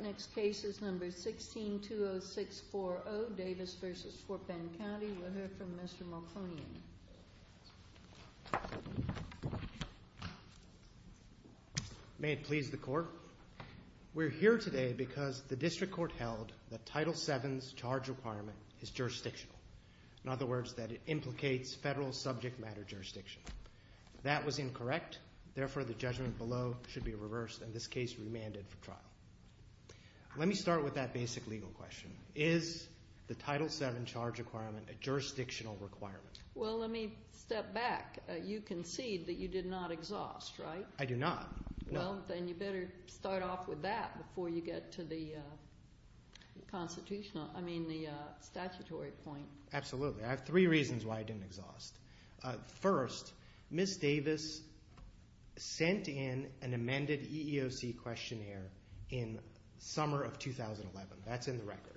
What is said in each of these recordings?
Next case is number 16-20640, Davis v. Fort Bend County. We'll hear from Mr. Malkonian. May it please the court. We're here today because the district court held that Title VII's charge requirement is jurisdictional. In other words, that it implicates federal subject matter jurisdiction. That was incorrect. Therefore, the judgment below should be reversed and this case remanded for trial. Let me start with that basic legal question. Is the Title VII charge requirement a jurisdictional requirement? Well, let me step back. You concede that you did not exhaust, right? I do not, no. Well, then you better start off with that before you get to the constitutional, I mean the statutory point. Absolutely. I have three reasons why I didn't exhaust. First, Ms. Davis sent in an amended EEOC questionnaire in summer of 2011. That's in the record.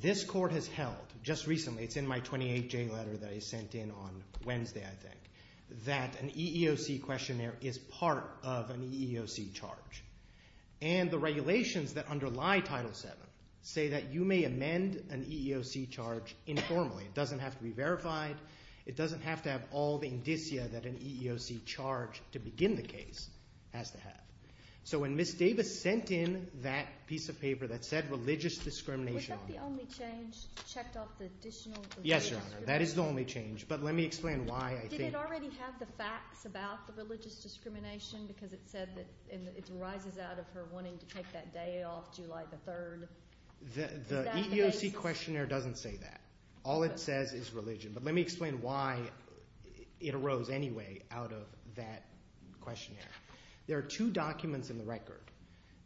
This court has held, just recently, it's in my 28-J letter that I sent in on Wednesday, I think, that an EEOC questionnaire is part of an EEOC charge. And the regulations that underlie Title VII say that you may amend an EEOC charge informally. It doesn't have to be verified. It doesn't have to have all the indicia that an EEOC charge to begin the case has to have. So when Ms. Davis sent in that piece of paper that said religious discrimination… Was that the only change? Checked off the additional religious discrimination? Yes, Your Honor. That is the only change. But let me explain why I think… Did it already have the facts about the religious discrimination because it said that it arises out of her wanting to take that day off July the 3rd? The EEOC questionnaire doesn't say that. All it says is religion. But let me explain why it arose anyway out of that questionnaire. There are two documents in the record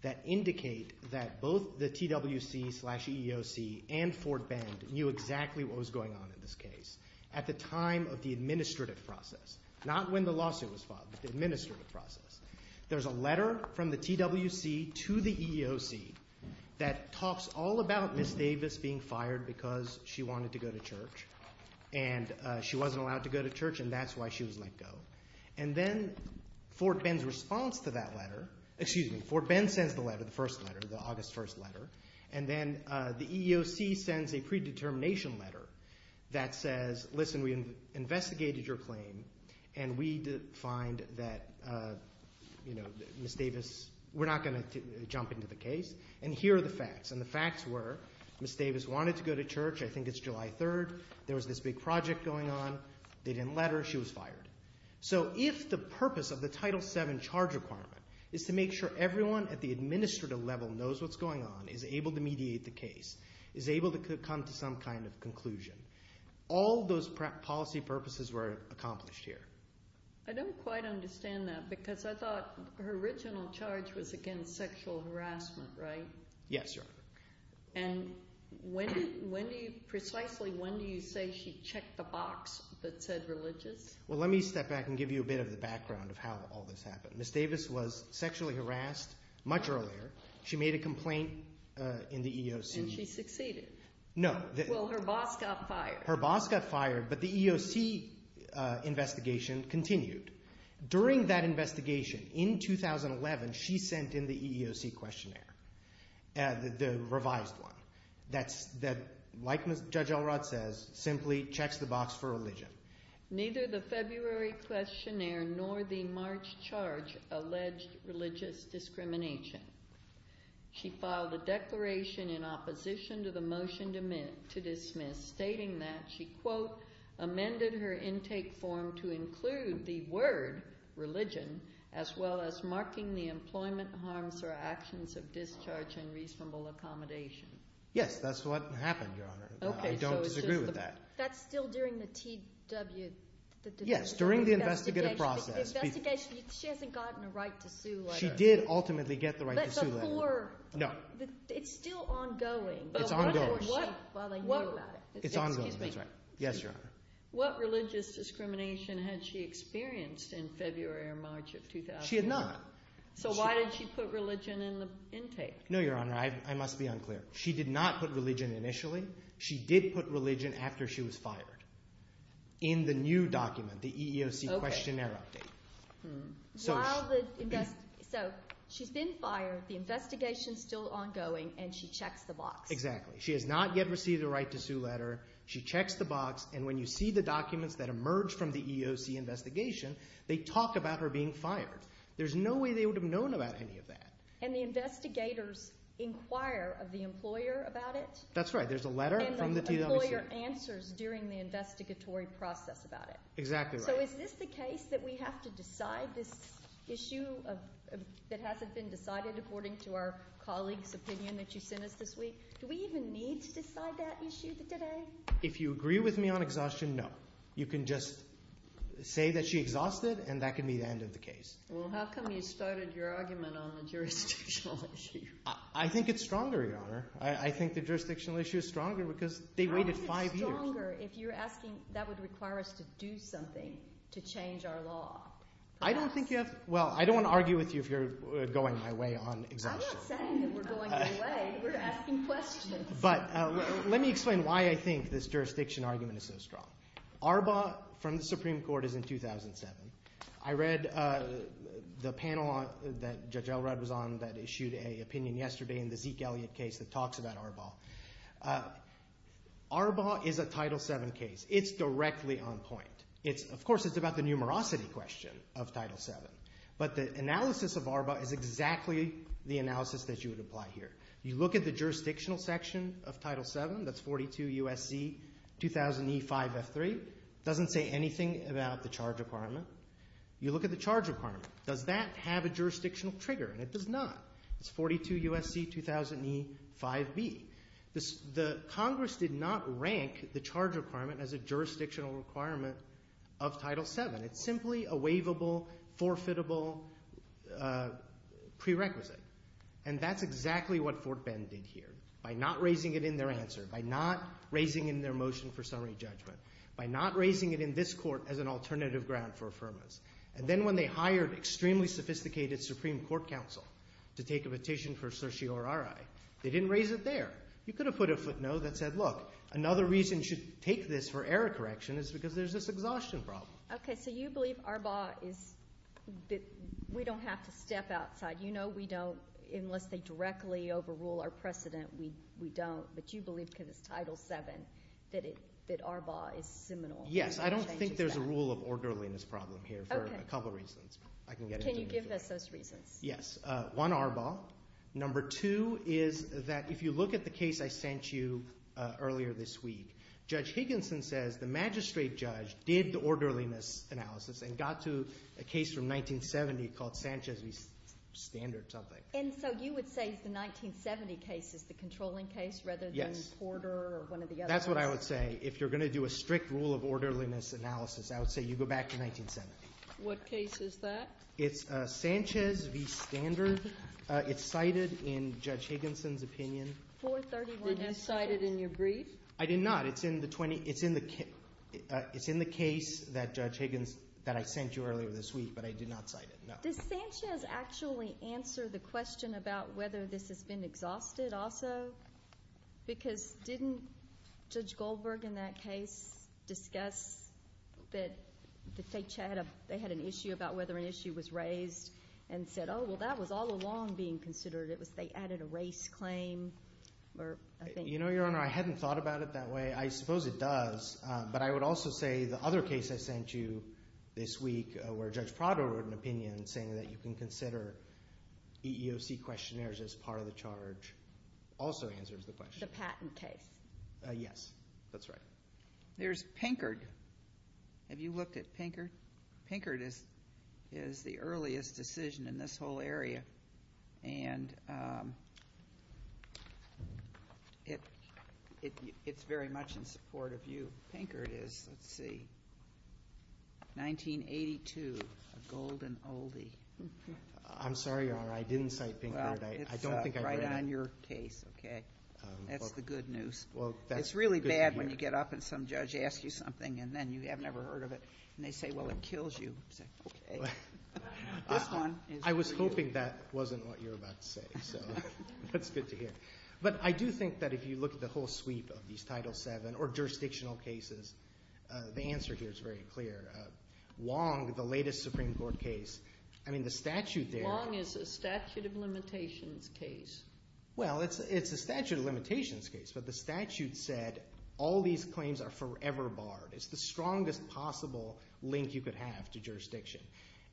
that indicate that both the TWC slash EEOC and Fort Bend knew exactly what was going on in this case. At the time of the administrative process. Not when the lawsuit was filed, but the administrative process. There's a letter from the TWC to the EEOC that talks all about Ms. Davis being fired because she wanted to go to church. And she wasn't allowed to go to church and that's why she was let go. And then Fort Bend's response to that letter… Excuse me, Fort Bend sends the letter, the first letter, the August 1st letter. And then the EEOC sends a predetermination letter that says, listen, we investigated your claim and we find that, you know, Ms. Davis… We're not going to jump into the case. And here are the facts. And the facts were Ms. Davis wanted to go to church. I think it's July 3rd. There was this big project going on. They didn't let her. She was fired. So if the purpose of the Title VII charge requirement is to make sure everyone at the administrative level knows what's going on, is able to mediate the case, is able to come to some kind of conclusion, all those policy purposes were accomplished here. I don't quite understand that because I thought her original charge was against sexual harassment, right? Yes, Your Honor. And when do you – precisely when do you say she checked the box that said religious? Well, let me step back and give you a bit of the background of how all this happened. Ms. Davis was sexually harassed much earlier. She made a complaint in the EEOC. And she succeeded. No. Well, her boss got fired. Her boss got fired, but the EEOC investigation continued. During that investigation in 2011, she sent in the EEOC questionnaire, the revised one, that like Judge Elrod says, simply checks the box for religion. Neither the February questionnaire nor the March charge alleged religious discrimination. She filed a declaration in opposition to the motion to dismiss, stating that she, quote, amended her intake form to include the word religion as well as marking the employment harms or actions of discharge and reasonable accommodation. Yes, that's what happened, Your Honor. I don't disagree with that. That's still during the T.W. Yes, during the investigative process. The investigation – she hasn't gotten a right to sue like that. She did ultimately get the right to sue like that. But before – No. It's still ongoing. It's ongoing. But before she – while they knew about it. It's ongoing, that's right. Excuse me. Yes, Your Honor. What religious discrimination had she experienced in February or March of 2011? She had not. So why did she put religion in the intake? No, Your Honor. I must be unclear. She did not put religion initially. She did put religion after she was fired in the new document, the EEOC questionnaire update. Okay. So she's been fired. The investigation is still ongoing, and she checks the box. Exactly. She has not yet received a right to sue letter. She checks the box, and when you see the documents that emerge from the EEOC investigation, they talk about her being fired. There's no way they would have known about any of that. And the investigators inquire of the employer about it? That's right. There's a letter from the EEOC. And the employer answers during the investigatory process about it? Exactly right. So is this the case that we have to decide this issue that hasn't been decided according to our colleague's opinion that you sent us this week? Do we even need to decide that issue today? If you agree with me on exhaustion, no. You can just say that she exhausted, and that can be the end of the case. Well, how come you started your argument on the jurisdictional issue? I think it's stronger, Your Honor. I think the jurisdictional issue is stronger because they waited five years. How is it stronger if you're asking that would require us to do something to change our law? I don't think you have to – well, I don't want to argue with you if you're going my way on exhaustion. I'm not saying that we're going your way. We're asking questions. But let me explain why I think this jurisdiction argument is so strong. Arbaugh from the Supreme Court is in 2007. I read the panel that Judge Elrod was on that issued an opinion yesterday in the Zeke Elliott case that talks about Arbaugh. Arbaugh is a Title VII case. It's directly on point. Of course, it's about the numerosity question of Title VII. But the analysis of Arbaugh is exactly the analysis that you would apply here. You look at the jurisdictional section of Title VII. That's 42 U.S.C. 2000E5F3. It doesn't say anything about the charge requirement. You look at the charge requirement. Does that have a jurisdictional trigger? And it does not. It's 42 U.S.C. 2000E5B. Congress did not rank the charge requirement as a jurisdictional requirement of Title VII. It's simply a waivable, forfeitable prerequisite. And that's exactly what Fort Bend did here by not raising it in their answer, by not raising it in their motion for summary judgment, by not raising it in this court as an alternative ground for affirmers. And then when they hired extremely sophisticated Supreme Court counsel to take a petition for certiorari, they didn't raise it there. You could have put a footnote that said, look, another reason you should take this for error correction is because there's this exhaustion problem. Okay, so you believe Arbaugh is that we don't have to step outside. You know we don't, unless they directly overrule our precedent, we don't. But you believe because it's Title VII that Arbaugh is seminal. Yes, I don't think there's a rule of orderliness problem here for a couple reasons. Can you give us those reasons? Yes. One, Arbaugh. Number two is that if you look at the case I sent you earlier this week, Judge Higginson says the magistrate judge did the orderliness analysis and got to a case from 1970 called Sanchez v. Standard something. And so you would say the 1970 case is the controlling case rather than Porter or one of the others? Yes. That's what I would say. If you're going to do a strict rule of orderliness analysis, I would say you go back to 1970. What case is that? It's Sanchez v. Standard. It's cited in Judge Higginson's opinion. Did you cite it in your brief? I did not. It's in the case that Judge Higgins – that I sent you earlier this week, but I did not cite it, no. Does Sanchez actually answer the question about whether this has been exhausted also? Because didn't Judge Goldberg in that case discuss that they had an issue about whether an issue was raised and said, oh, well, that was all along being considered. It was they added a race claim. You know, Your Honor, I hadn't thought about it that way. I suppose it does. But I would also say the other case I sent you this week where Judge Prado wrote an opinion saying that you can consider EEOC questionnaires as part of the charge also answers the question. The patent case. Yes, that's right. There's Pinkard. Have you looked at Pinkard? Pinkard is the earliest decision in this whole area, and it's very much in support of you. Pinkard is, let's see, 1982, a golden oldie. I'm sorry, Your Honor, I didn't cite Pinkard. Well, it's right on your case, okay? That's the good news. It's really bad when you get up and some judge asks you something and then you have never heard of it, and they say, well, it kills you. You say, okay. This one is for you. I was hoping that wasn't what you were about to say, so that's good to hear. But I do think that if you look at the whole sweep of these Title VII or jurisdictional cases, the answer here is very clear. Long, the latest Supreme Court case, I mean the statute there. Long is a statute of limitations case. Well, it's a statute of limitations case, but the statute said all these claims are forever barred. It's the strongest possible link you could have to jurisdiction.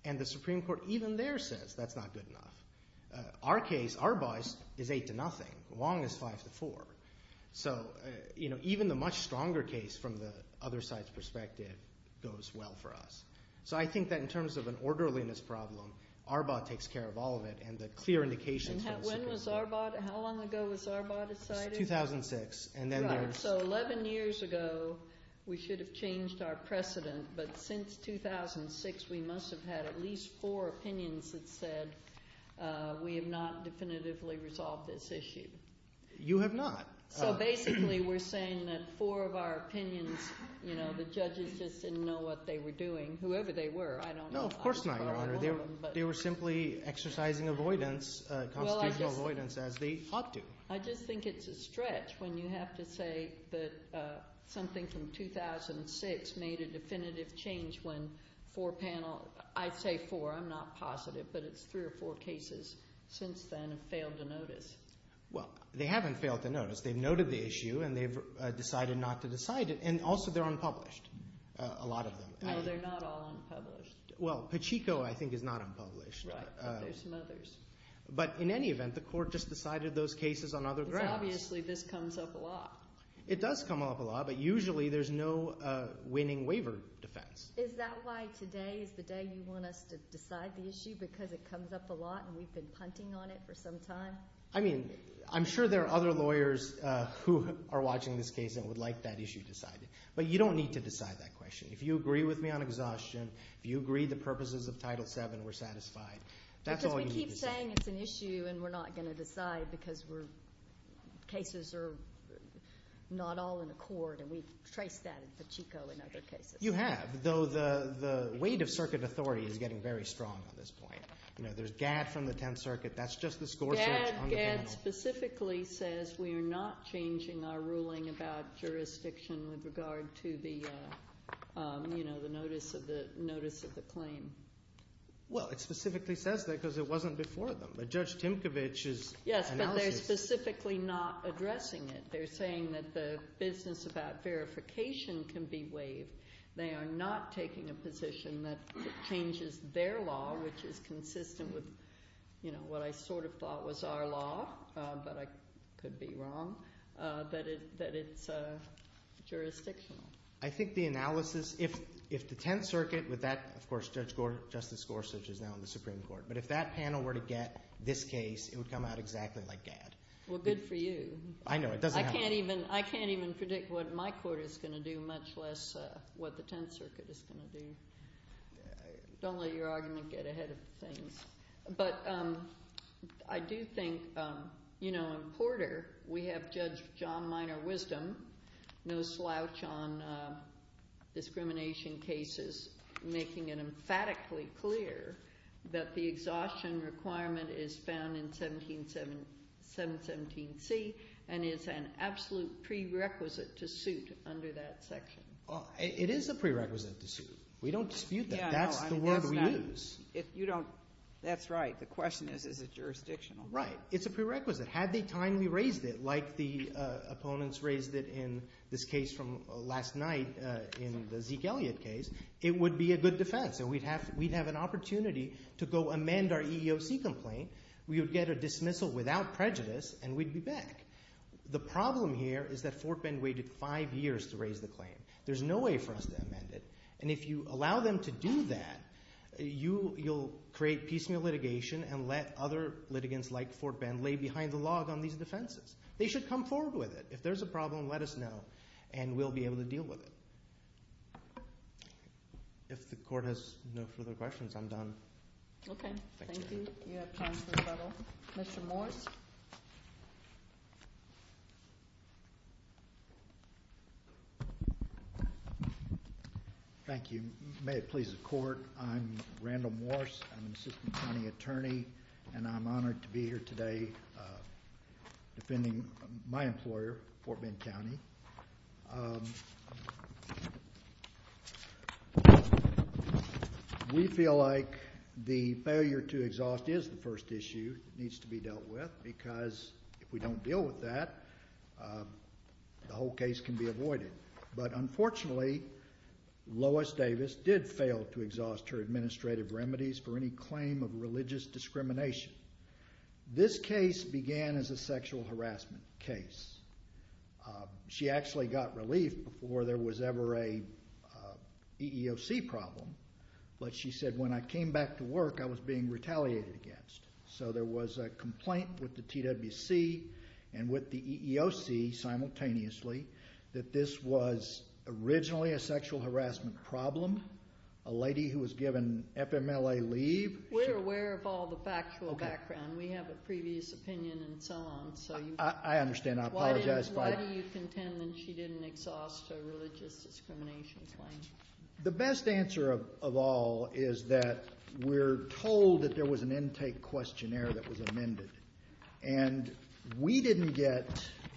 And the Supreme Court even there says that's not good enough. Our case, Arbaugh's, is 8 to nothing. Long is 5 to 4. So, you know, even the much stronger case from the other side's perspective goes well for us. So I think that in terms of an orderliness problem, Arbaugh takes care of all of it. And the clear indication from the Supreme Court. When was Arbaugh? How long ago was Arbaugh decided? 2006. Right. So 11 years ago we should have changed our precedent, but since 2006 we must have had at least four opinions that said we have not definitively resolved this issue. You have not. So basically we're saying that four of our opinions, you know, the judges just didn't know what they were doing, whoever they were. I don't know. No, of course not, Your Honor. They were simply exercising avoidance, constitutional avoidance as they ought to. I just think it's a stretch when you have to say that something from 2006 made a definitive change when four panel – I'd say four. I'm not positive, but it's three or four cases since then have failed to notice. Well, they haven't failed to notice. They've noted the issue and they've decided not to decide it. And also they're unpublished, a lot of them. No, they're not all unpublished. Well, Pacheco, I think, is not unpublished. Right, but there's some others. But in any event, the court just decided those cases on other grounds. Obviously this comes up a lot. It does come up a lot, but usually there's no winning waiver defense. Is that why today is the day you want us to decide the issue because it comes up a lot and we've been punting on it for some time? I mean I'm sure there are other lawyers who are watching this case and would like that issue decided. But you don't need to decide that question. If you agree with me on exhaustion, if you agree the purposes of Title VII were satisfied, that's all you need to decide. We're saying it's an issue and we're not going to decide because cases are not all in accord, and we've traced that at Pacheco in other cases. You have, though the weight of circuit authority is getting very strong on this point. There's GAD from the Tenth Circuit. That's just the score search on the panel. GAD specifically says we are not changing our ruling about jurisdiction with regard to the notice of the claim. Well, it specifically says that because it wasn't before them. But Judge Timkovich's analysis- Yes, but they're specifically not addressing it. They're saying that the business about verification can be waived. They are not taking a position that it changes their law, which is consistent with what I sort of thought was our law, but I could be wrong, that it's jurisdictional. I think the analysis – if the Tenth Circuit with that – of course, Justice Gorsuch is now in the Supreme Court. But if that panel were to get this case, it would come out exactly like GAD. Well, good for you. I know. I can't even predict what my court is going to do, much less what the Tenth Circuit is going to do. Don't let your argument get ahead of things. But I do think in Porter we have Judge John Minor-Wisdom, no slouch on discrimination cases, making it emphatically clear that the exhaustion requirement is found in 717C and is an absolute prerequisite to suit under that section. It is a prerequisite to suit. We don't dispute that. That's the word we use. If you don't – that's right. The question is, is it jurisdictional? Right. It's a prerequisite. Had they timely raised it like the opponents raised it in this case from last night in the Zeke Elliott case, it would be a good defense. And we'd have an opportunity to go amend our EEOC complaint. We would get a dismissal without prejudice, and we'd be back. The problem here is that Fort Bend waited five years to raise the claim. There's no way for us to amend it. And if you allow them to do that, you'll create piecemeal litigation and let other litigants like Fort Bend lay behind the log on these defenses. They should come forward with it. If there's a problem, let us know, and we'll be able to deal with it. If the court has no further questions, I'm done. Okay. Thank you. You have time for a couple. Commissioner Morris? Thank you. May it please the court, I'm Randall Morris. I'm an assistant county attorney, and I'm honored to be here today defending my employer, Fort Bend County. We feel like the failure to exhaust is the first issue that needs to be dealt with because if we don't deal with that, the whole case can be avoided. But unfortunately, Lois Davis did fail to exhaust her administrative remedies for any claim of religious discrimination. This case began as a sexual harassment case. She actually got relief before there was ever an EEOC problem, but she said, when I came back to work, I was being retaliated against. So there was a complaint with the TWC and with the EEOC simultaneously that this was originally a sexual harassment problem. A lady who was given FMLA leave. We're aware of all the factual background. We have a previous opinion and so on. I understand. I apologize. Why do you contend that she didn't exhaust her religious discrimination claim? The best answer of all is that we're told that there was an intake questionnaire that was amended, and we didn't get,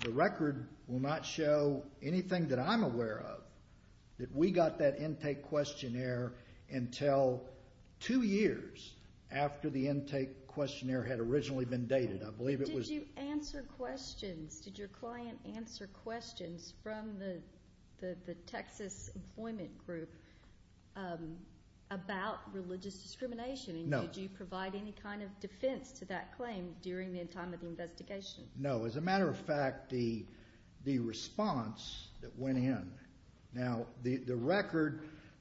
the record will not show anything that I'm aware of, that we got that intake questionnaire until two years after the intake questionnaire had originally been dated. Did you answer questions? Did your client answer questions from the Texas employment group about religious discrimination? No. And did you provide any kind of defense to that claim during the time of the investigation? No. As a matter of fact, the response that went in. Now, the record,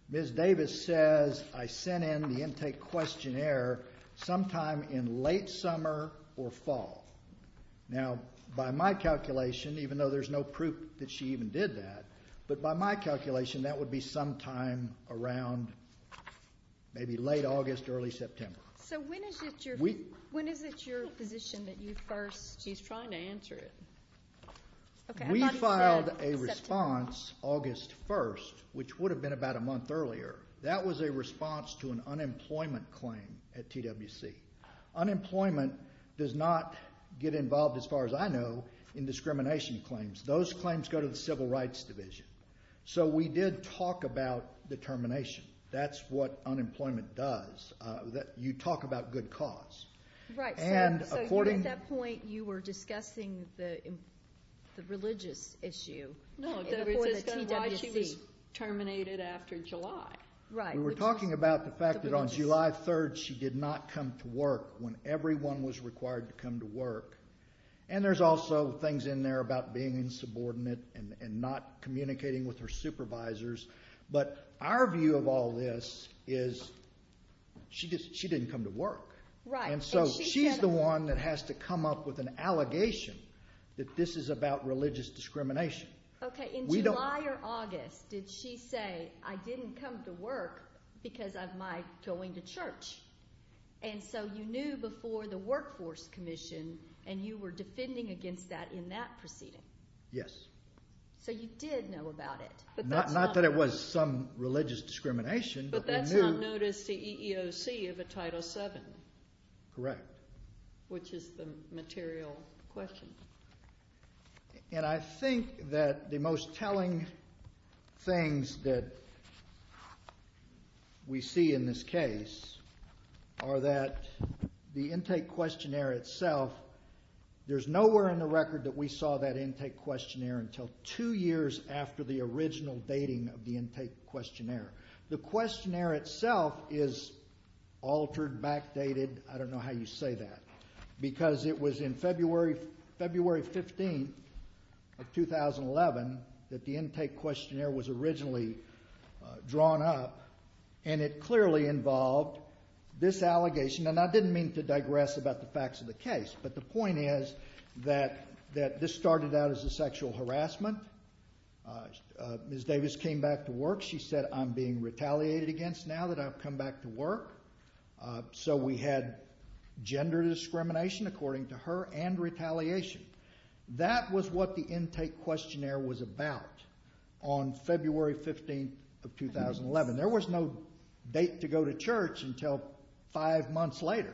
Ms. Davis says I sent in the intake questionnaire sometime in late summer or fall. Now, by my calculation, even though there's no proof that she even did that, but by my calculation that would be sometime around maybe late August, early September. So when is it your position that you first? She's trying to answer it. We filed a response August 1st, which would have been about a month earlier. That was a response to an unemployment claim at TWC. Unemployment does not get involved, as far as I know, in discrimination claims. Those claims go to the Civil Rights Division. So we did talk about determination. That's what unemployment does. You talk about good cause. So at that point you were discussing the religious issue. No, it was why she was terminated after July. Right. We were talking about the fact that on July 3rd she did not come to work when everyone was required to come to work. And there's also things in there about being insubordinate and not communicating with her supervisors. But our view of all this is she didn't come to work. Right. And so she's the one that has to come up with an allegation that this is about religious discrimination. Okay. In July or August did she say, I didn't come to work because of my going to church. And so you knew before the Workforce Commission and you were defending against that in that proceeding. Yes. So you did know about it. Not that it was some religious discrimination. But that's not notice to EEOC of a Title VII. Correct. Which is the material question. And I think that the most telling things that we see in this case are that the intake questionnaire itself, there's nowhere in the record that we saw that intake questionnaire until two years after the original dating of the intake questionnaire. The questionnaire itself is altered, backdated. I don't know how you say that. Because it was in February 15th of 2011 that the intake questionnaire was originally drawn up. And it clearly involved this allegation. And I didn't mean to digress about the facts of the case. But the point is that this started out as a sexual harassment. Ms. Davis came back to work. She said, I'm being retaliated against now that I've come back to work. So we had gender discrimination, according to her, and retaliation. That was what the intake questionnaire was about on February 15th of 2011. There was no date to go to church until five months later.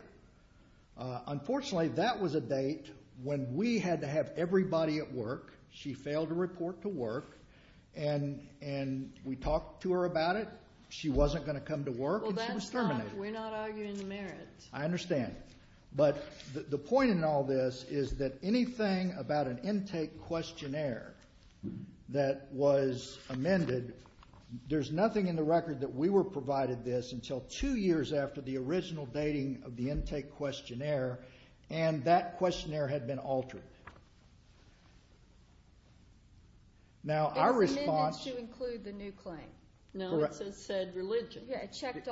Unfortunately, that was a date when we had to have everybody at work. She failed to report to work. And we talked to her about it. She wasn't going to come to work, and she was terminated. We're not arguing the merit. I understand. But the point in all this is that anything about an intake questionnaire that was amended, there's nothing in the record that we were provided this until two years after the original dating of the intake questionnaire. And that questionnaire had been altered. It's amended to include the new claim. No, it said religion. It checked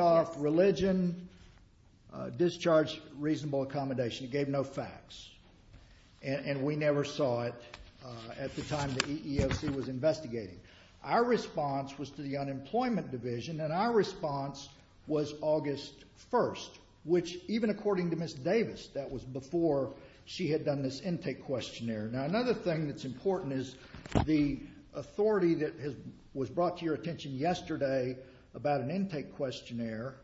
off religion, discharge, reasonable accommodation. It gave no facts. And we never saw it at the time the EEOC was investigating. Our response was to the unemployment division, and our response was August 1st, which even according to Ms. Davis, that was before she had done this intake questionnaire. Now, another thing that's important is the authority that was brought to your attention yesterday about an intake questionnaire.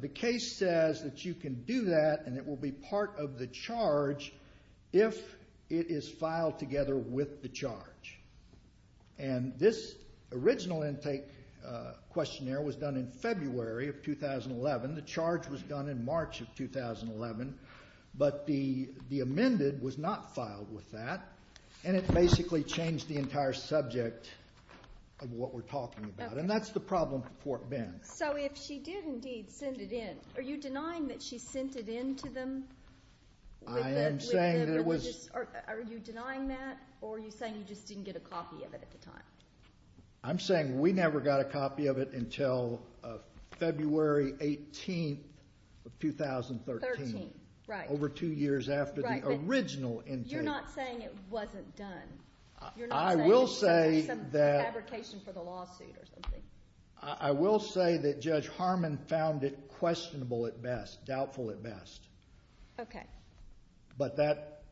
The case says that you can do that, and it will be part of the charge if it is filed together with the charge. And this original intake questionnaire was done in February of 2011. The charge was done in March of 2011. But the amended was not filed with that, and it basically changed the entire subject of what we're talking about. And that's the problem for Fort Bend. So if she did indeed send it in, are you denying that she sent it in to them? I am saying that it was. Are you denying that, or are you saying you just didn't get a copy of it at the time? I'm saying we never got a copy of it until February 18th of 2013. Thirteen, right. Over two years after the original intake. You're not saying it wasn't done. I will say that. You're not saying there was some fabrication for the lawsuit or something. I will say that Judge Harmon found it questionable at best, doubtful at best. Okay. But that.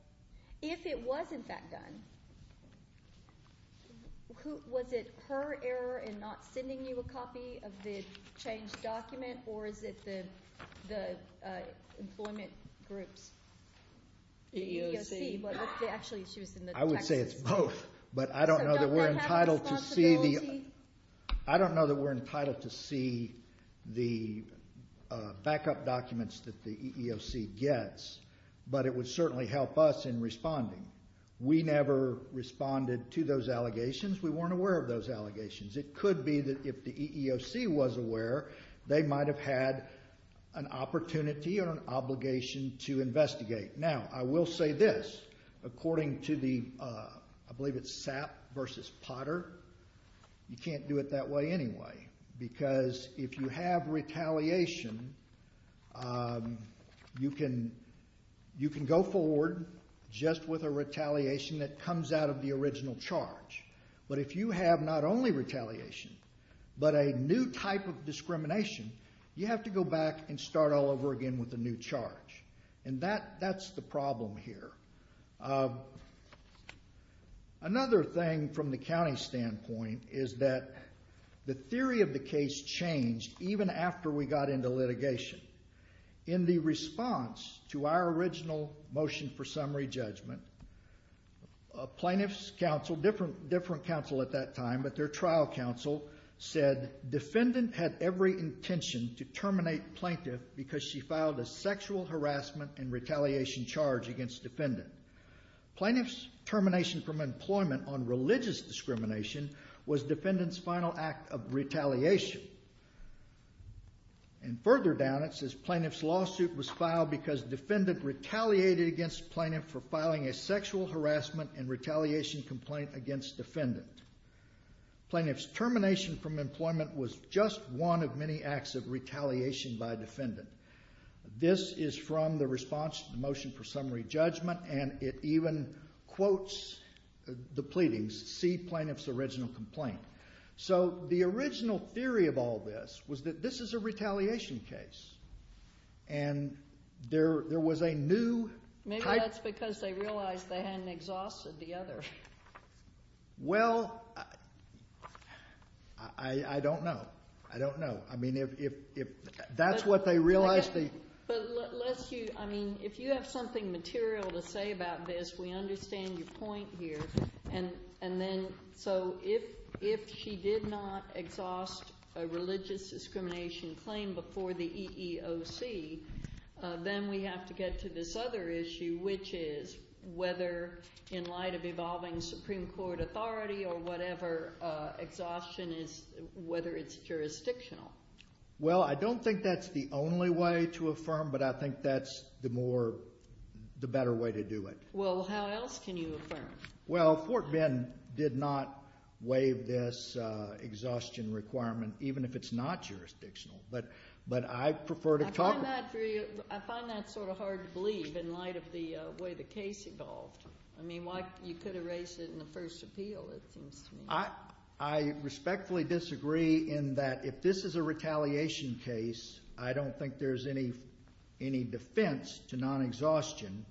If it was, in fact, done, was it her error in not sending you a copy of the changed document, or is it the employment group's? The EEOC. Actually, she was in the Texas. I would say it's both. But I don't know that we're entitled to see the backup documents that the EEOC gets. But it would certainly help us in responding. We never responded to those allegations. We weren't aware of those allegations. It could be that if the EEOC was aware, they might have had an opportunity or an obligation to investigate. Now, I will say this. According to the, I believe it's SAP versus Potter, you can't do it that way anyway. Because if you have retaliation, you can go forward just with a retaliation that comes out of the original charge. But if you have not only retaliation, but a new type of discrimination, you have to go back and start all over again with a new charge. And that's the problem here. Another thing from the county standpoint is that the theory of the case changed even after we got into litigation. In the response to our original motion for summary judgment, plaintiff's counsel, different counsel at that time, but their trial counsel said defendant had every intention to terminate plaintiff because she filed a sexual harassment and retaliation charge against defendant. Plaintiff's termination from employment on religious discrimination was defendant's final act of retaliation. And further down it says plaintiff's lawsuit was filed because defendant retaliated against plaintiff for filing a sexual harassment and retaliation complaint against defendant. Plaintiff's termination from employment was just one of many acts of retaliation by defendant. This is from the response to the motion for summary judgment, and it even quotes the pleadings, see plaintiff's original complaint. So the original theory of all this was that this is a retaliation case. And there was a new type... Maybe that's because they realized they hadn't exhausted the other. Well, I don't know. I don't know. I mean, if that's what they realized they... But unless you, I mean, if you have something material to say about this, we understand your point here. And then so if she did not exhaust a religious discrimination claim before the EEOC, then we have to get to this other issue, which is whether in light of evolving Supreme Court authority or whatever exhaustion is, whether it's jurisdictional. Well, I don't think that's the only way to affirm, but I think that's the more, the better way to do it. Well, how else can you affirm? Well, Fort Bend did not waive this exhaustion requirement, even if it's not jurisdictional. But I prefer to talk... I find that sort of hard to believe in light of the way the case evolved. I mean, you could erase it in the first appeal, it seems to me. I respectfully disagree in that if this is a retaliation case, I don't think there's any defense to non-exhaustion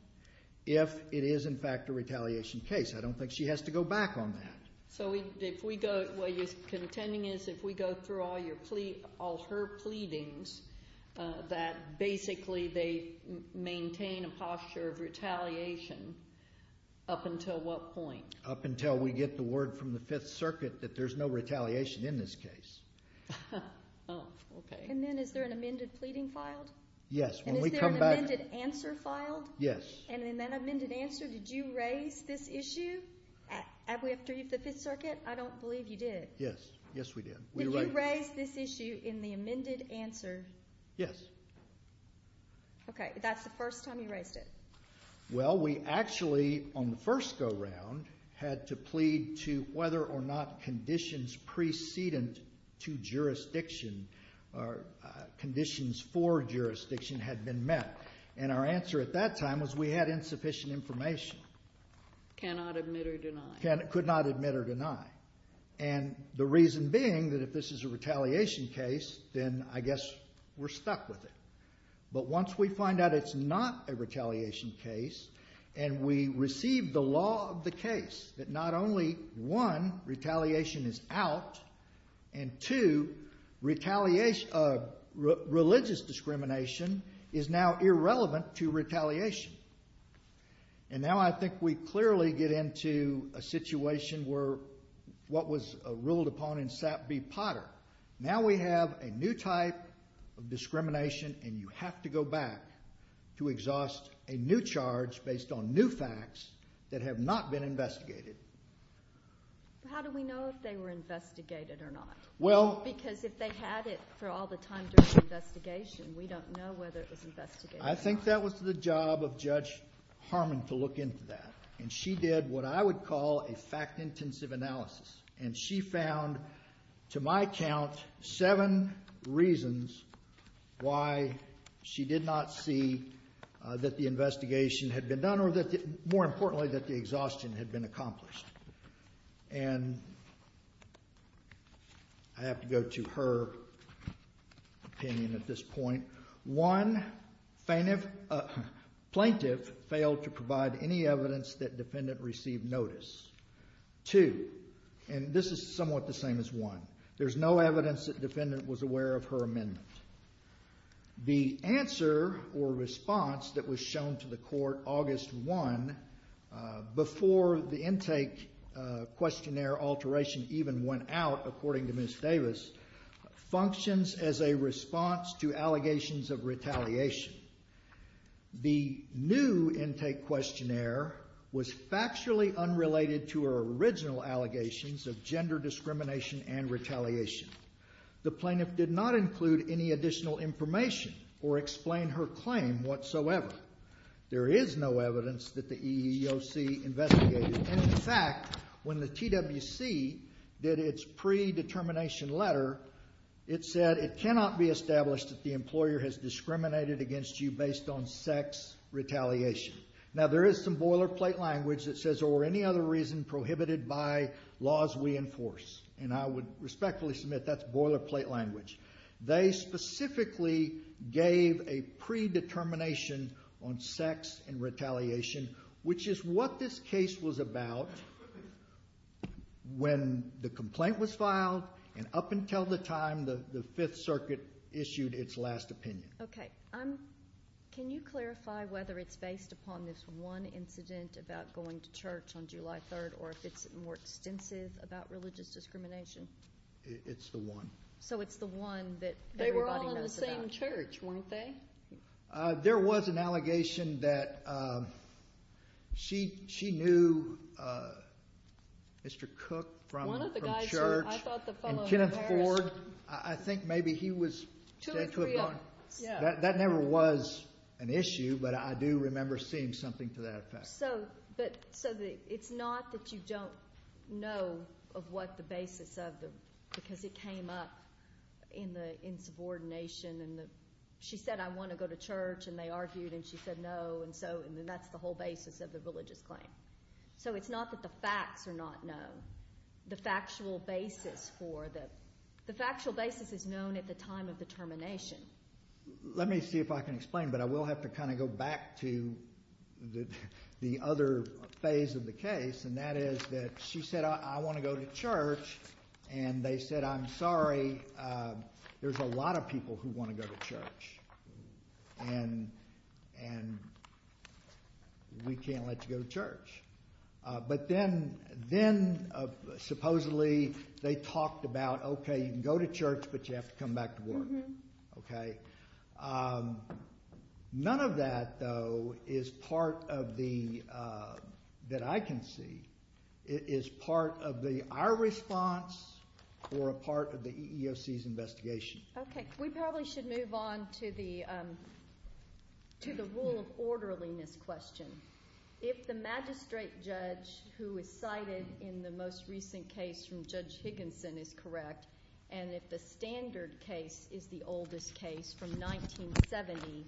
if it is in fact a retaliation case. I don't think she has to go back on that. So if we go, what you're contending is if we go through all her pleadings, that basically they maintain a posture of retaliation up until what point? Up until we get the word from the Fifth Circuit that there's no retaliation in this case. Oh, okay. And then is there an amended pleading filed? Yes. And is there an amended answer filed? Yes. And in that amended answer, did you raise this issue? After the Fifth Circuit? I don't believe you did. Yes. Yes, we did. Did you raise this issue in the amended answer? Yes. Okay. That's the first time you raised it? Well, we actually, on the first go-round, had to plead to whether or not conditions precedent to jurisdiction or conditions for jurisdiction had been met. And our answer at that time was we had insufficient information. Cannot admit or deny. Could not admit or deny. And the reason being that if this is a retaliation case, then I guess we're stuck with it. But once we find out it's not a retaliation case and we receive the law of the case that not only, one, retaliation is out, and, two, religious discrimination is now irrelevant to retaliation. And now I think we clearly get into a situation where what was ruled upon in Sap v. Potter. Now we have a new type of discrimination, and you have to go back to exhaust a new charge based on new facts that have not been investigated. How do we know if they were investigated or not? Because if they had it for all the time during the investigation, we don't know whether it was investigated or not. I think that was the job of Judge Harmon to look into that. And she did what I would call a fact-intensive analysis. And she found, to my count, seven reasons why she did not see that the investigation had been done or, more importantly, that the exhaustion had been accomplished. And I have to go to her opinion at this point. One, plaintiff failed to provide any evidence that defendant received notice. Two, and this is somewhat the same as one, there's no evidence that defendant was aware of her amendment. The answer or response that was shown to the court August 1, before the intake questionnaire alteration even went out, according to Ms. Davis, functions as a response to allegations of retaliation. The new intake questionnaire was factually unrelated to her original allegations of gender discrimination and retaliation. The plaintiff did not include any additional information or explain her claim whatsoever. There is no evidence that the EEOC investigated. And, in fact, when the TWC did its predetermination letter, it said it cannot be established that the employer has discriminated against you based on sex retaliation. Now, there is some boilerplate language that says, or any other reason prohibited by laws we enforce. And I would respectfully submit that's boilerplate language. They specifically gave a predetermination on sex and retaliation, which is what this case was about when the complaint was filed, and up until the time the Fifth Circuit issued its last opinion. Okay. Can you clarify whether it's based upon this one incident about going to church on July 3rd, or if it's more extensive about religious discrimination? It's the one. So it's the one that everybody knows about. They were all in the same church, weren't they? There was an allegation that she knew Mr. Cook from church and Kenneth Ford. I think maybe he was said to have gone. That never was an issue, but I do remember seeing something to that effect. So it's not that you don't know of what the basis of the, because it came up in subordination. She said, I want to go to church, and they argued, and she said no, and that's the whole basis of the religious claim. So it's not that the facts are not known. The factual basis is known at the time of the termination. Let me see if I can explain, but I will have to kind of go back to the other phase of the case, and that is that she said, I want to go to church, and they said, I'm sorry. There's a lot of people who want to go to church, and we can't let you go to church. But then supposedly they talked about, okay, you can go to church, but you have to come back to work. None of that, though, is part of the, that I can see, is part of our response or a part of the EEOC's investigation. Okay. We probably should move on to the rule of orderliness question. If the magistrate judge who is cited in the most recent case from Judge Higginson is correct, and if the standard case is the oldest case from 1970,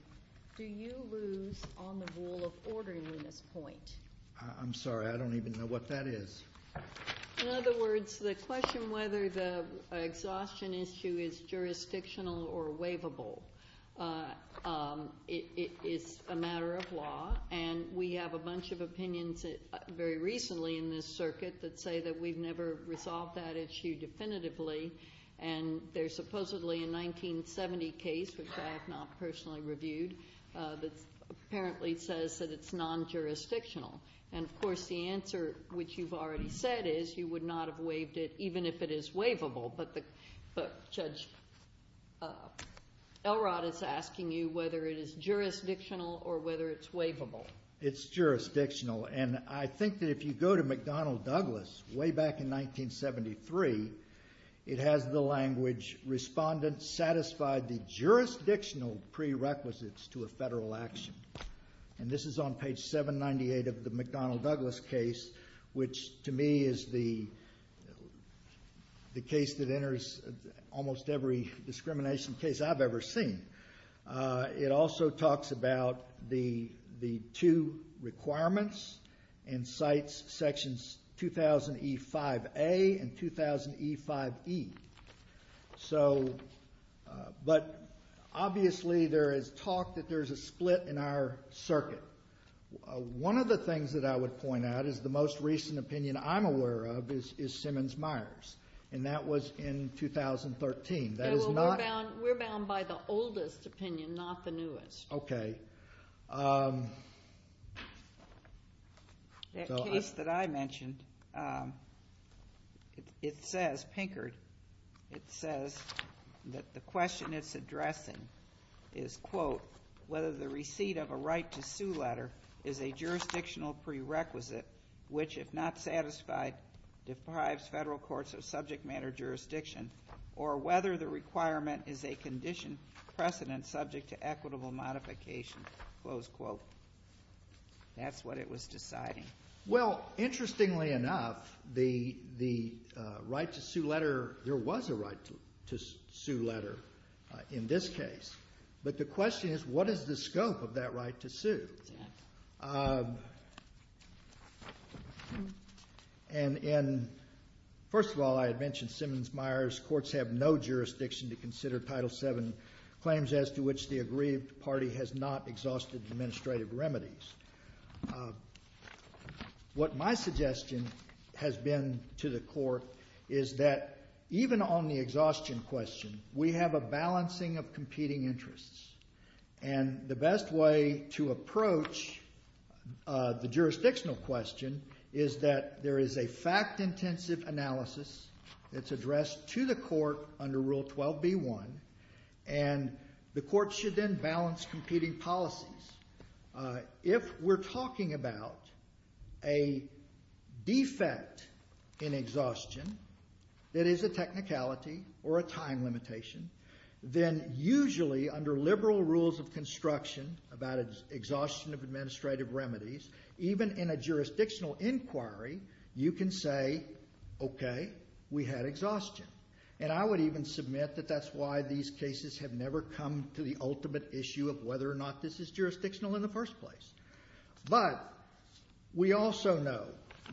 do you lose on the rule of orderliness point? I'm sorry. I don't even know what that is. In other words, the question whether the exhaustion issue is jurisdictional or waivable is a matter of law, and we have a bunch of opinions very recently in this circuit that say that we've never resolved that issue definitively, and there's supposedly a 1970 case, which I have not personally reviewed, that apparently says that it's non-jurisdictional. And, of course, the answer, which you've already said, is you would not have waived it even if it is waivable, but Judge Elrod is asking you whether it is jurisdictional or whether it's waivable. It's jurisdictional, and I think that if you go to McDonnell Douglas way back in 1973, it has the language, respondent satisfied the jurisdictional prerequisites to a federal action. And this is on page 798 of the McDonnell Douglas case, which to me is the case that enters almost every discrimination case I've ever seen. It also talks about the two requirements and cites sections 2000E5A and 2000E5E. But, obviously, there is talk that there's a split in our circuit. One of the things that I would point out is the most recent opinion I'm aware of is Simmons-Myers, and that was in 2013. That is not- We're bound by the oldest opinion, not the newest. Okay. That case that I mentioned, it says, Pinkard, it says that the question it's addressing is, quote, whether the receipt of a right to sue letter is a jurisdictional prerequisite, which if not satisfied deprives federal courts of subject matter jurisdiction, or whether the requirement is a condition precedent subject to equitable modification, close quote. That's what it was deciding. Well, interestingly enough, the right to sue letter, there was a right to sue letter in this case. But the question is, what is the scope of that right to sue? And, first of all, I had mentioned Simmons-Myers. Courts have no jurisdiction to consider Title VII claims as to which the aggrieved party has not exhausted administrative remedies. What my suggestion has been to the court is that even on the exhaustion question, we have a balancing of competing interests. And the best way to approach the jurisdictional question is that there is a fact-intensive analysis that's addressed to the court under Rule 12b-1. And the court should then balance competing policies. If we're talking about a defect in exhaustion that is a technicality or a time limitation, then usually under liberal rules of construction about exhaustion of administrative remedies, even in a jurisdictional inquiry, you can say, okay, we had exhaustion. And I would even submit that that's why these cases have never come to the ultimate issue of whether or not this is jurisdictional in the first place. But we also know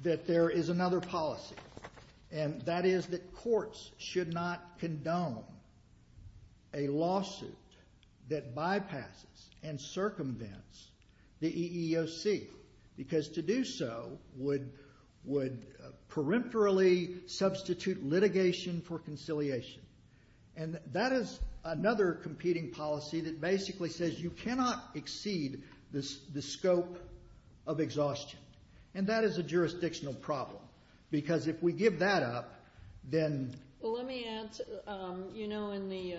that there is another policy. And that is that courts should not condone a lawsuit that bypasses and circumvents the EEOC. Because to do so would peripherally substitute litigation for conciliation. And that is another competing policy that basically says you cannot exceed the scope of exhaustion. And that is a jurisdictional problem. Because if we give that up, then... Well, let me add, you know, in the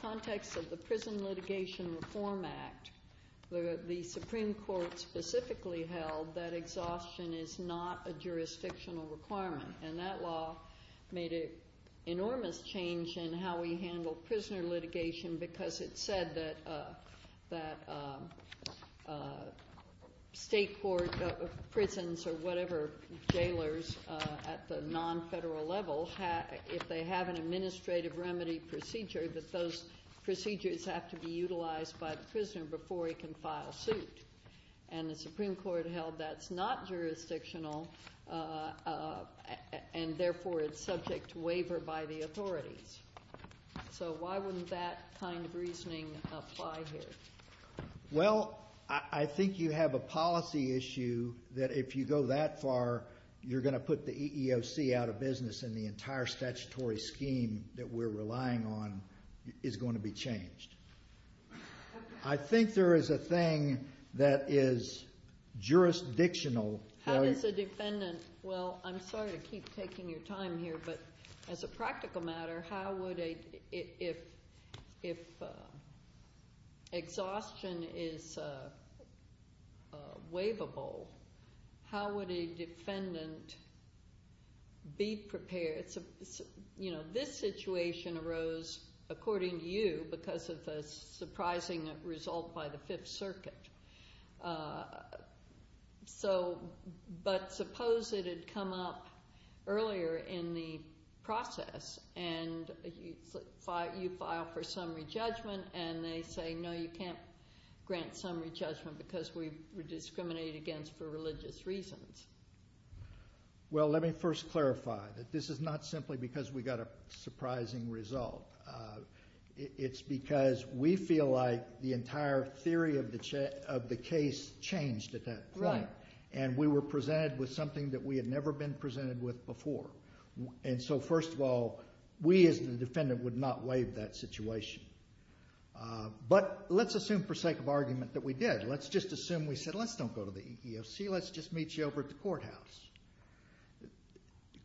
context of the Prison Litigation Reform Act, the Supreme Court specifically held that exhaustion is not a jurisdictional requirement. And that law made an enormous change in how we handle prisoner litigation because it said that state court prisons or whatever, jailers at the non-federal level, if they have an administrative remedy procedure, that those procedures have to be utilized by the prisoner before he can file suit. And the Supreme Court held that's not jurisdictional, and therefore it's subject to waiver by the authorities. So why wouldn't that kind of reasoning apply here? Well, I think you have a policy issue that if you go that far, you're going to put the EEOC out of business, and the entire statutory scheme that we're relying on is going to be changed. I think there is a thing that is jurisdictional... How does a defendant... Well, I'm sorry to keep taking your time here, but as a practical matter, how would a... If exhaustion is waivable, how would a defendant be prepared? You know, this situation arose, according to you, because of the surprising result by the Fifth Circuit. But suppose it had come up earlier in the process, and you file for summary judgment, and they say, no, you can't grant summary judgment because we were discriminated against for religious reasons. Well, let me first clarify that this is not simply because we got a surprising result. It's because we feel like the entire theory of the case changed at that point, and we were presented with something that we had never been presented with before. And so, first of all, we as the defendant would not waive that situation. But let's assume, for sake of argument, that we did. Let's just assume we said, let's don't go to the EEOC. Let's just meet you over at the courthouse.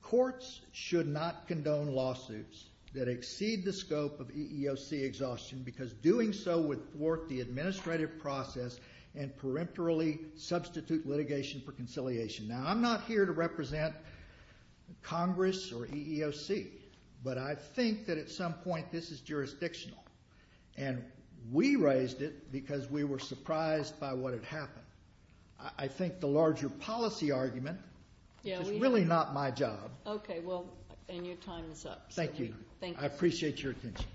Courts should not condone lawsuits that exceed the scope of EEOC exhaustion because doing so would thwart the administrative process and peremptorily substitute litigation for conciliation. Now, I'm not here to represent Congress or EEOC, but I think that at some point this is jurisdictional. And we raised it because we were surprised by what had happened. I think the larger policy argument is really not my job. Okay, well, and your time is up. Thank you. I appreciate your attention.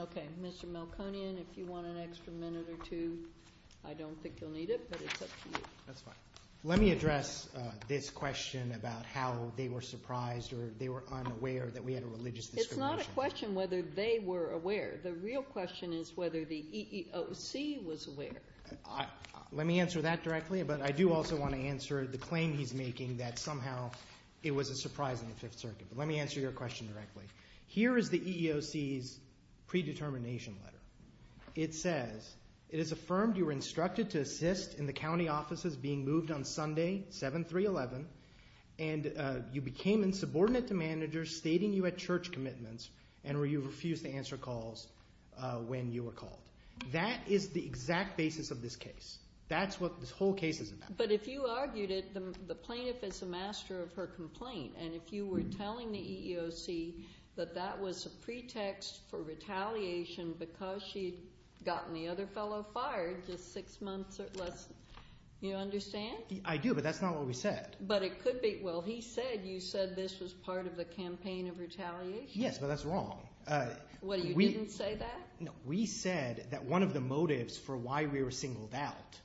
Okay. Mr. Melkonian, if you want an extra minute or two, I don't think you'll need it, but it's up to you. That's fine. Let me address this question about how they were surprised or they were unaware that we had a religious discrimination. It's not a question whether they were aware. The real question is whether the EEOC was aware. Let me answer that directly, but I do also want to answer the claim he's making that somehow it was a surprise in the Fifth Circuit. Let me answer your question directly. Here is the EEOC's predetermination letter. It says, It is affirmed you were instructed to assist in the county offices being moved on Sunday, 7-3-11, and you became insubordinate to managers stating you had church commitments and where you refused to answer calls when you were called. That is the exact basis of this case. That's what this whole case is about. But if you argued it, the plaintiff is a master of her complaint, and if you were telling the EEOC that that was a pretext for retaliation because she had gotten the other fellow fired just six months or less, you understand? I do, but that's not what we said. But it could be. Well, he said you said this was part of the campaign of retaliation. Yes, but that's wrong. What, you didn't say that? We said that one of the motives for why we were singled out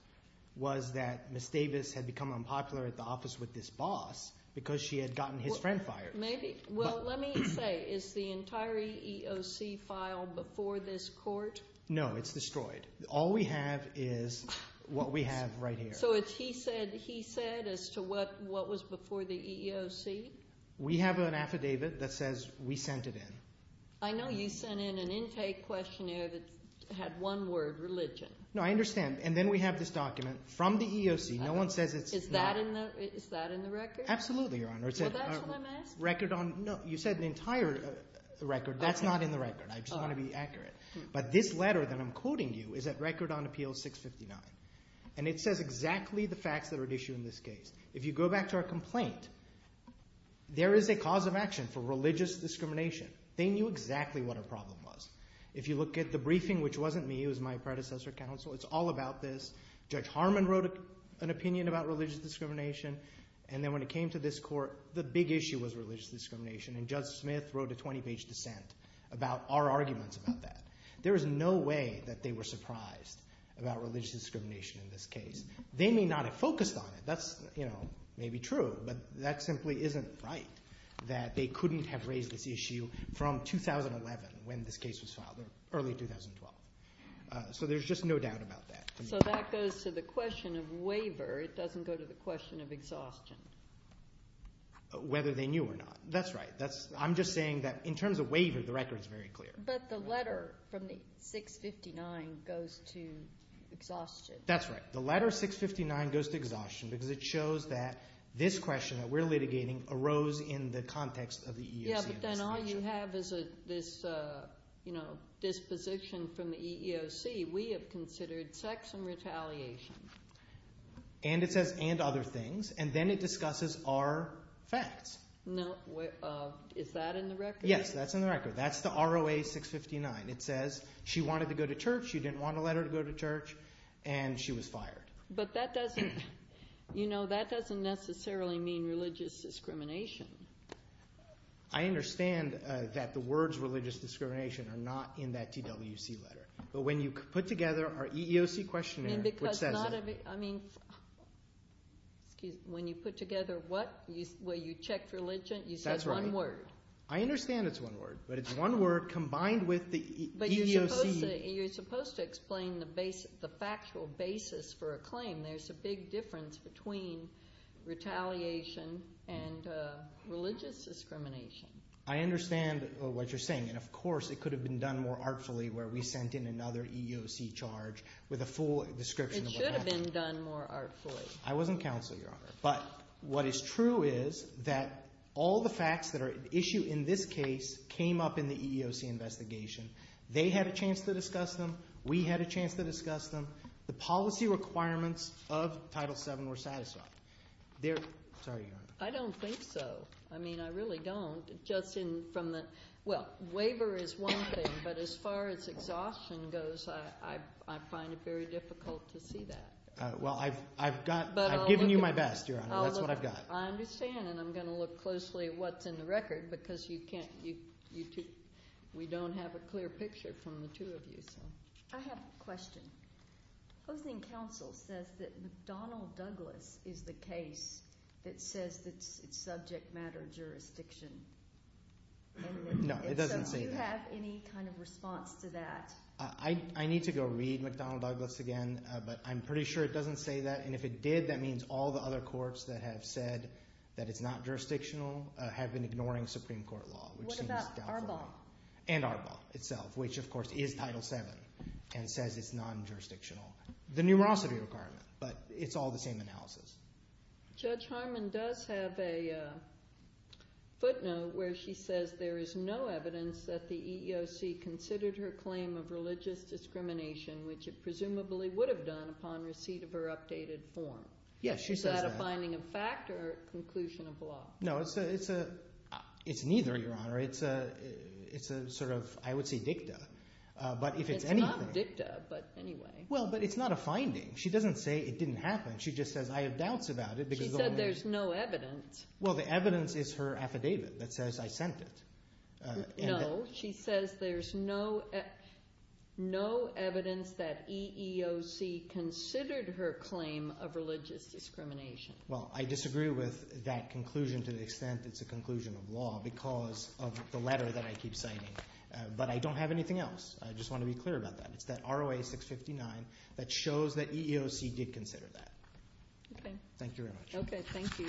was that Ms. Davis had become unpopular at the office with this boss because she had gotten his friend fired. Maybe. Well, let me say, is the entire EEOC file before this court? No, it's destroyed. All we have is what we have right here. So it's he said he said as to what was before the EEOC? We have an affidavit that says we sent it in. I know you sent in an intake questionnaire that had one word, religion. No, I understand, and then we have this document from the EEOC. No one says it's not. Is that in the record? Absolutely, Your Honor. Well, that's what I'm asking. No, you said the entire record. That's not in the record. I just want to be accurate. But this letter that I'm quoting you is at Record on Appeal 659, and it says exactly the facts that are at issue in this case. If you go back to our complaint, there is a cause of action for religious discrimination. They knew exactly what our problem was. If you look at the briefing, which wasn't me. It was my predecessor counsel. It's all about this. Judge Harmon wrote an opinion about religious discrimination, and then when it came to this court, the big issue was religious discrimination, and Judge Smith wrote a 20-page dissent about our arguments about that. There is no way that they were surprised about religious discrimination in this case. They may not have focused on it. That may be true, but that simply isn't right, that they couldn't have raised this issue from 2011 when this case was filed, or early 2012. So there's just no doubt about that. So that goes to the question of waiver. It doesn't go to the question of exhaustion. Whether they knew or not. That's right. I'm just saying that in terms of waiver, the record is very clear. But the letter from 659 goes to exhaustion. That's right. The letter 659 goes to exhaustion because it shows that this question that we're litigating arose in the context of the EEOC. Yeah, but then all you have is this disposition from the EEOC. We have considered sex and retaliation. And it says and other things, and then it discusses our facts. Is that in the record? Yes, that's in the record. That's the ROA 659. It says she wanted to go to church. She didn't want to let her go to church, and she was fired. But that doesn't necessarily mean religious discrimination. I understand that the words religious discrimination are not in that TWC letter. But when you put together our EEOC questionnaire, which says it. I mean, when you put together what, where you checked religion, you said one word. That's right. I understand it's one word, but it's one word combined with the EEOC. But you're supposed to explain the factual basis for a claim. There's a big difference between retaliation and religious discrimination. I understand what you're saying. And, of course, it could have been done more artfully where we sent in another EEOC charge with a full description of what happened. It should have been done more artfully. I wasn't counsel, Your Honor. But what is true is that all the facts that are at issue in this case came up in the EEOC investigation. They had a chance to discuss them. We had a chance to discuss them. The policy requirements of Title VII were satisfied. Sorry, Your Honor. I don't think so. I mean, I really don't. Just in from the – well, waiver is one thing, but as far as exhaustion goes, I find it very difficult to see that. Well, I've got – I've given you my best, Your Honor. That's what I've got. I understand, and I'm going to look closely at what's in the record because you can't – we don't have a clear picture from the two of you. I have a question. Hosting Council says that McDonnell Douglas is the case that says it's subject matter jurisdiction. No, it doesn't say that. Do you have any kind of response to that? I need to go read McDonnell Douglas again, but I'm pretty sure it doesn't say that. And if it did, that means all the other courts that have said that it's not jurisdictional have been ignoring Supreme Court law. What about Arbol? And Arbol itself, which, of course, is Title VII and says it's non-jurisdictional. The numerosity requirement, but it's all the same analysis. Judge Harmon does have a footnote where she says there is no evidence that the EEOC considered her claim of religious discrimination, which it presumably would have done upon receipt of her updated form. Yes, she says that. Is that a finding of fact or a conclusion of law? No, it's neither, Your Honor. It's a sort of – I would say dicta. It's not dicta, but anyway. Well, but it's not a finding. She doesn't say it didn't happen. She just says I have doubts about it. She said there's no evidence. Well, the evidence is her affidavit that says I sent it. No, she says there's no evidence that EEOC considered her claim of religious discrimination. Well, I disagree with that conclusion to the extent it's a conclusion of law because of the letter that I keep citing. But I don't have anything else. I just want to be clear about that. It's that ROA-659 that shows that EEOC did consider that. Okay. Thank you very much. Okay, thank you.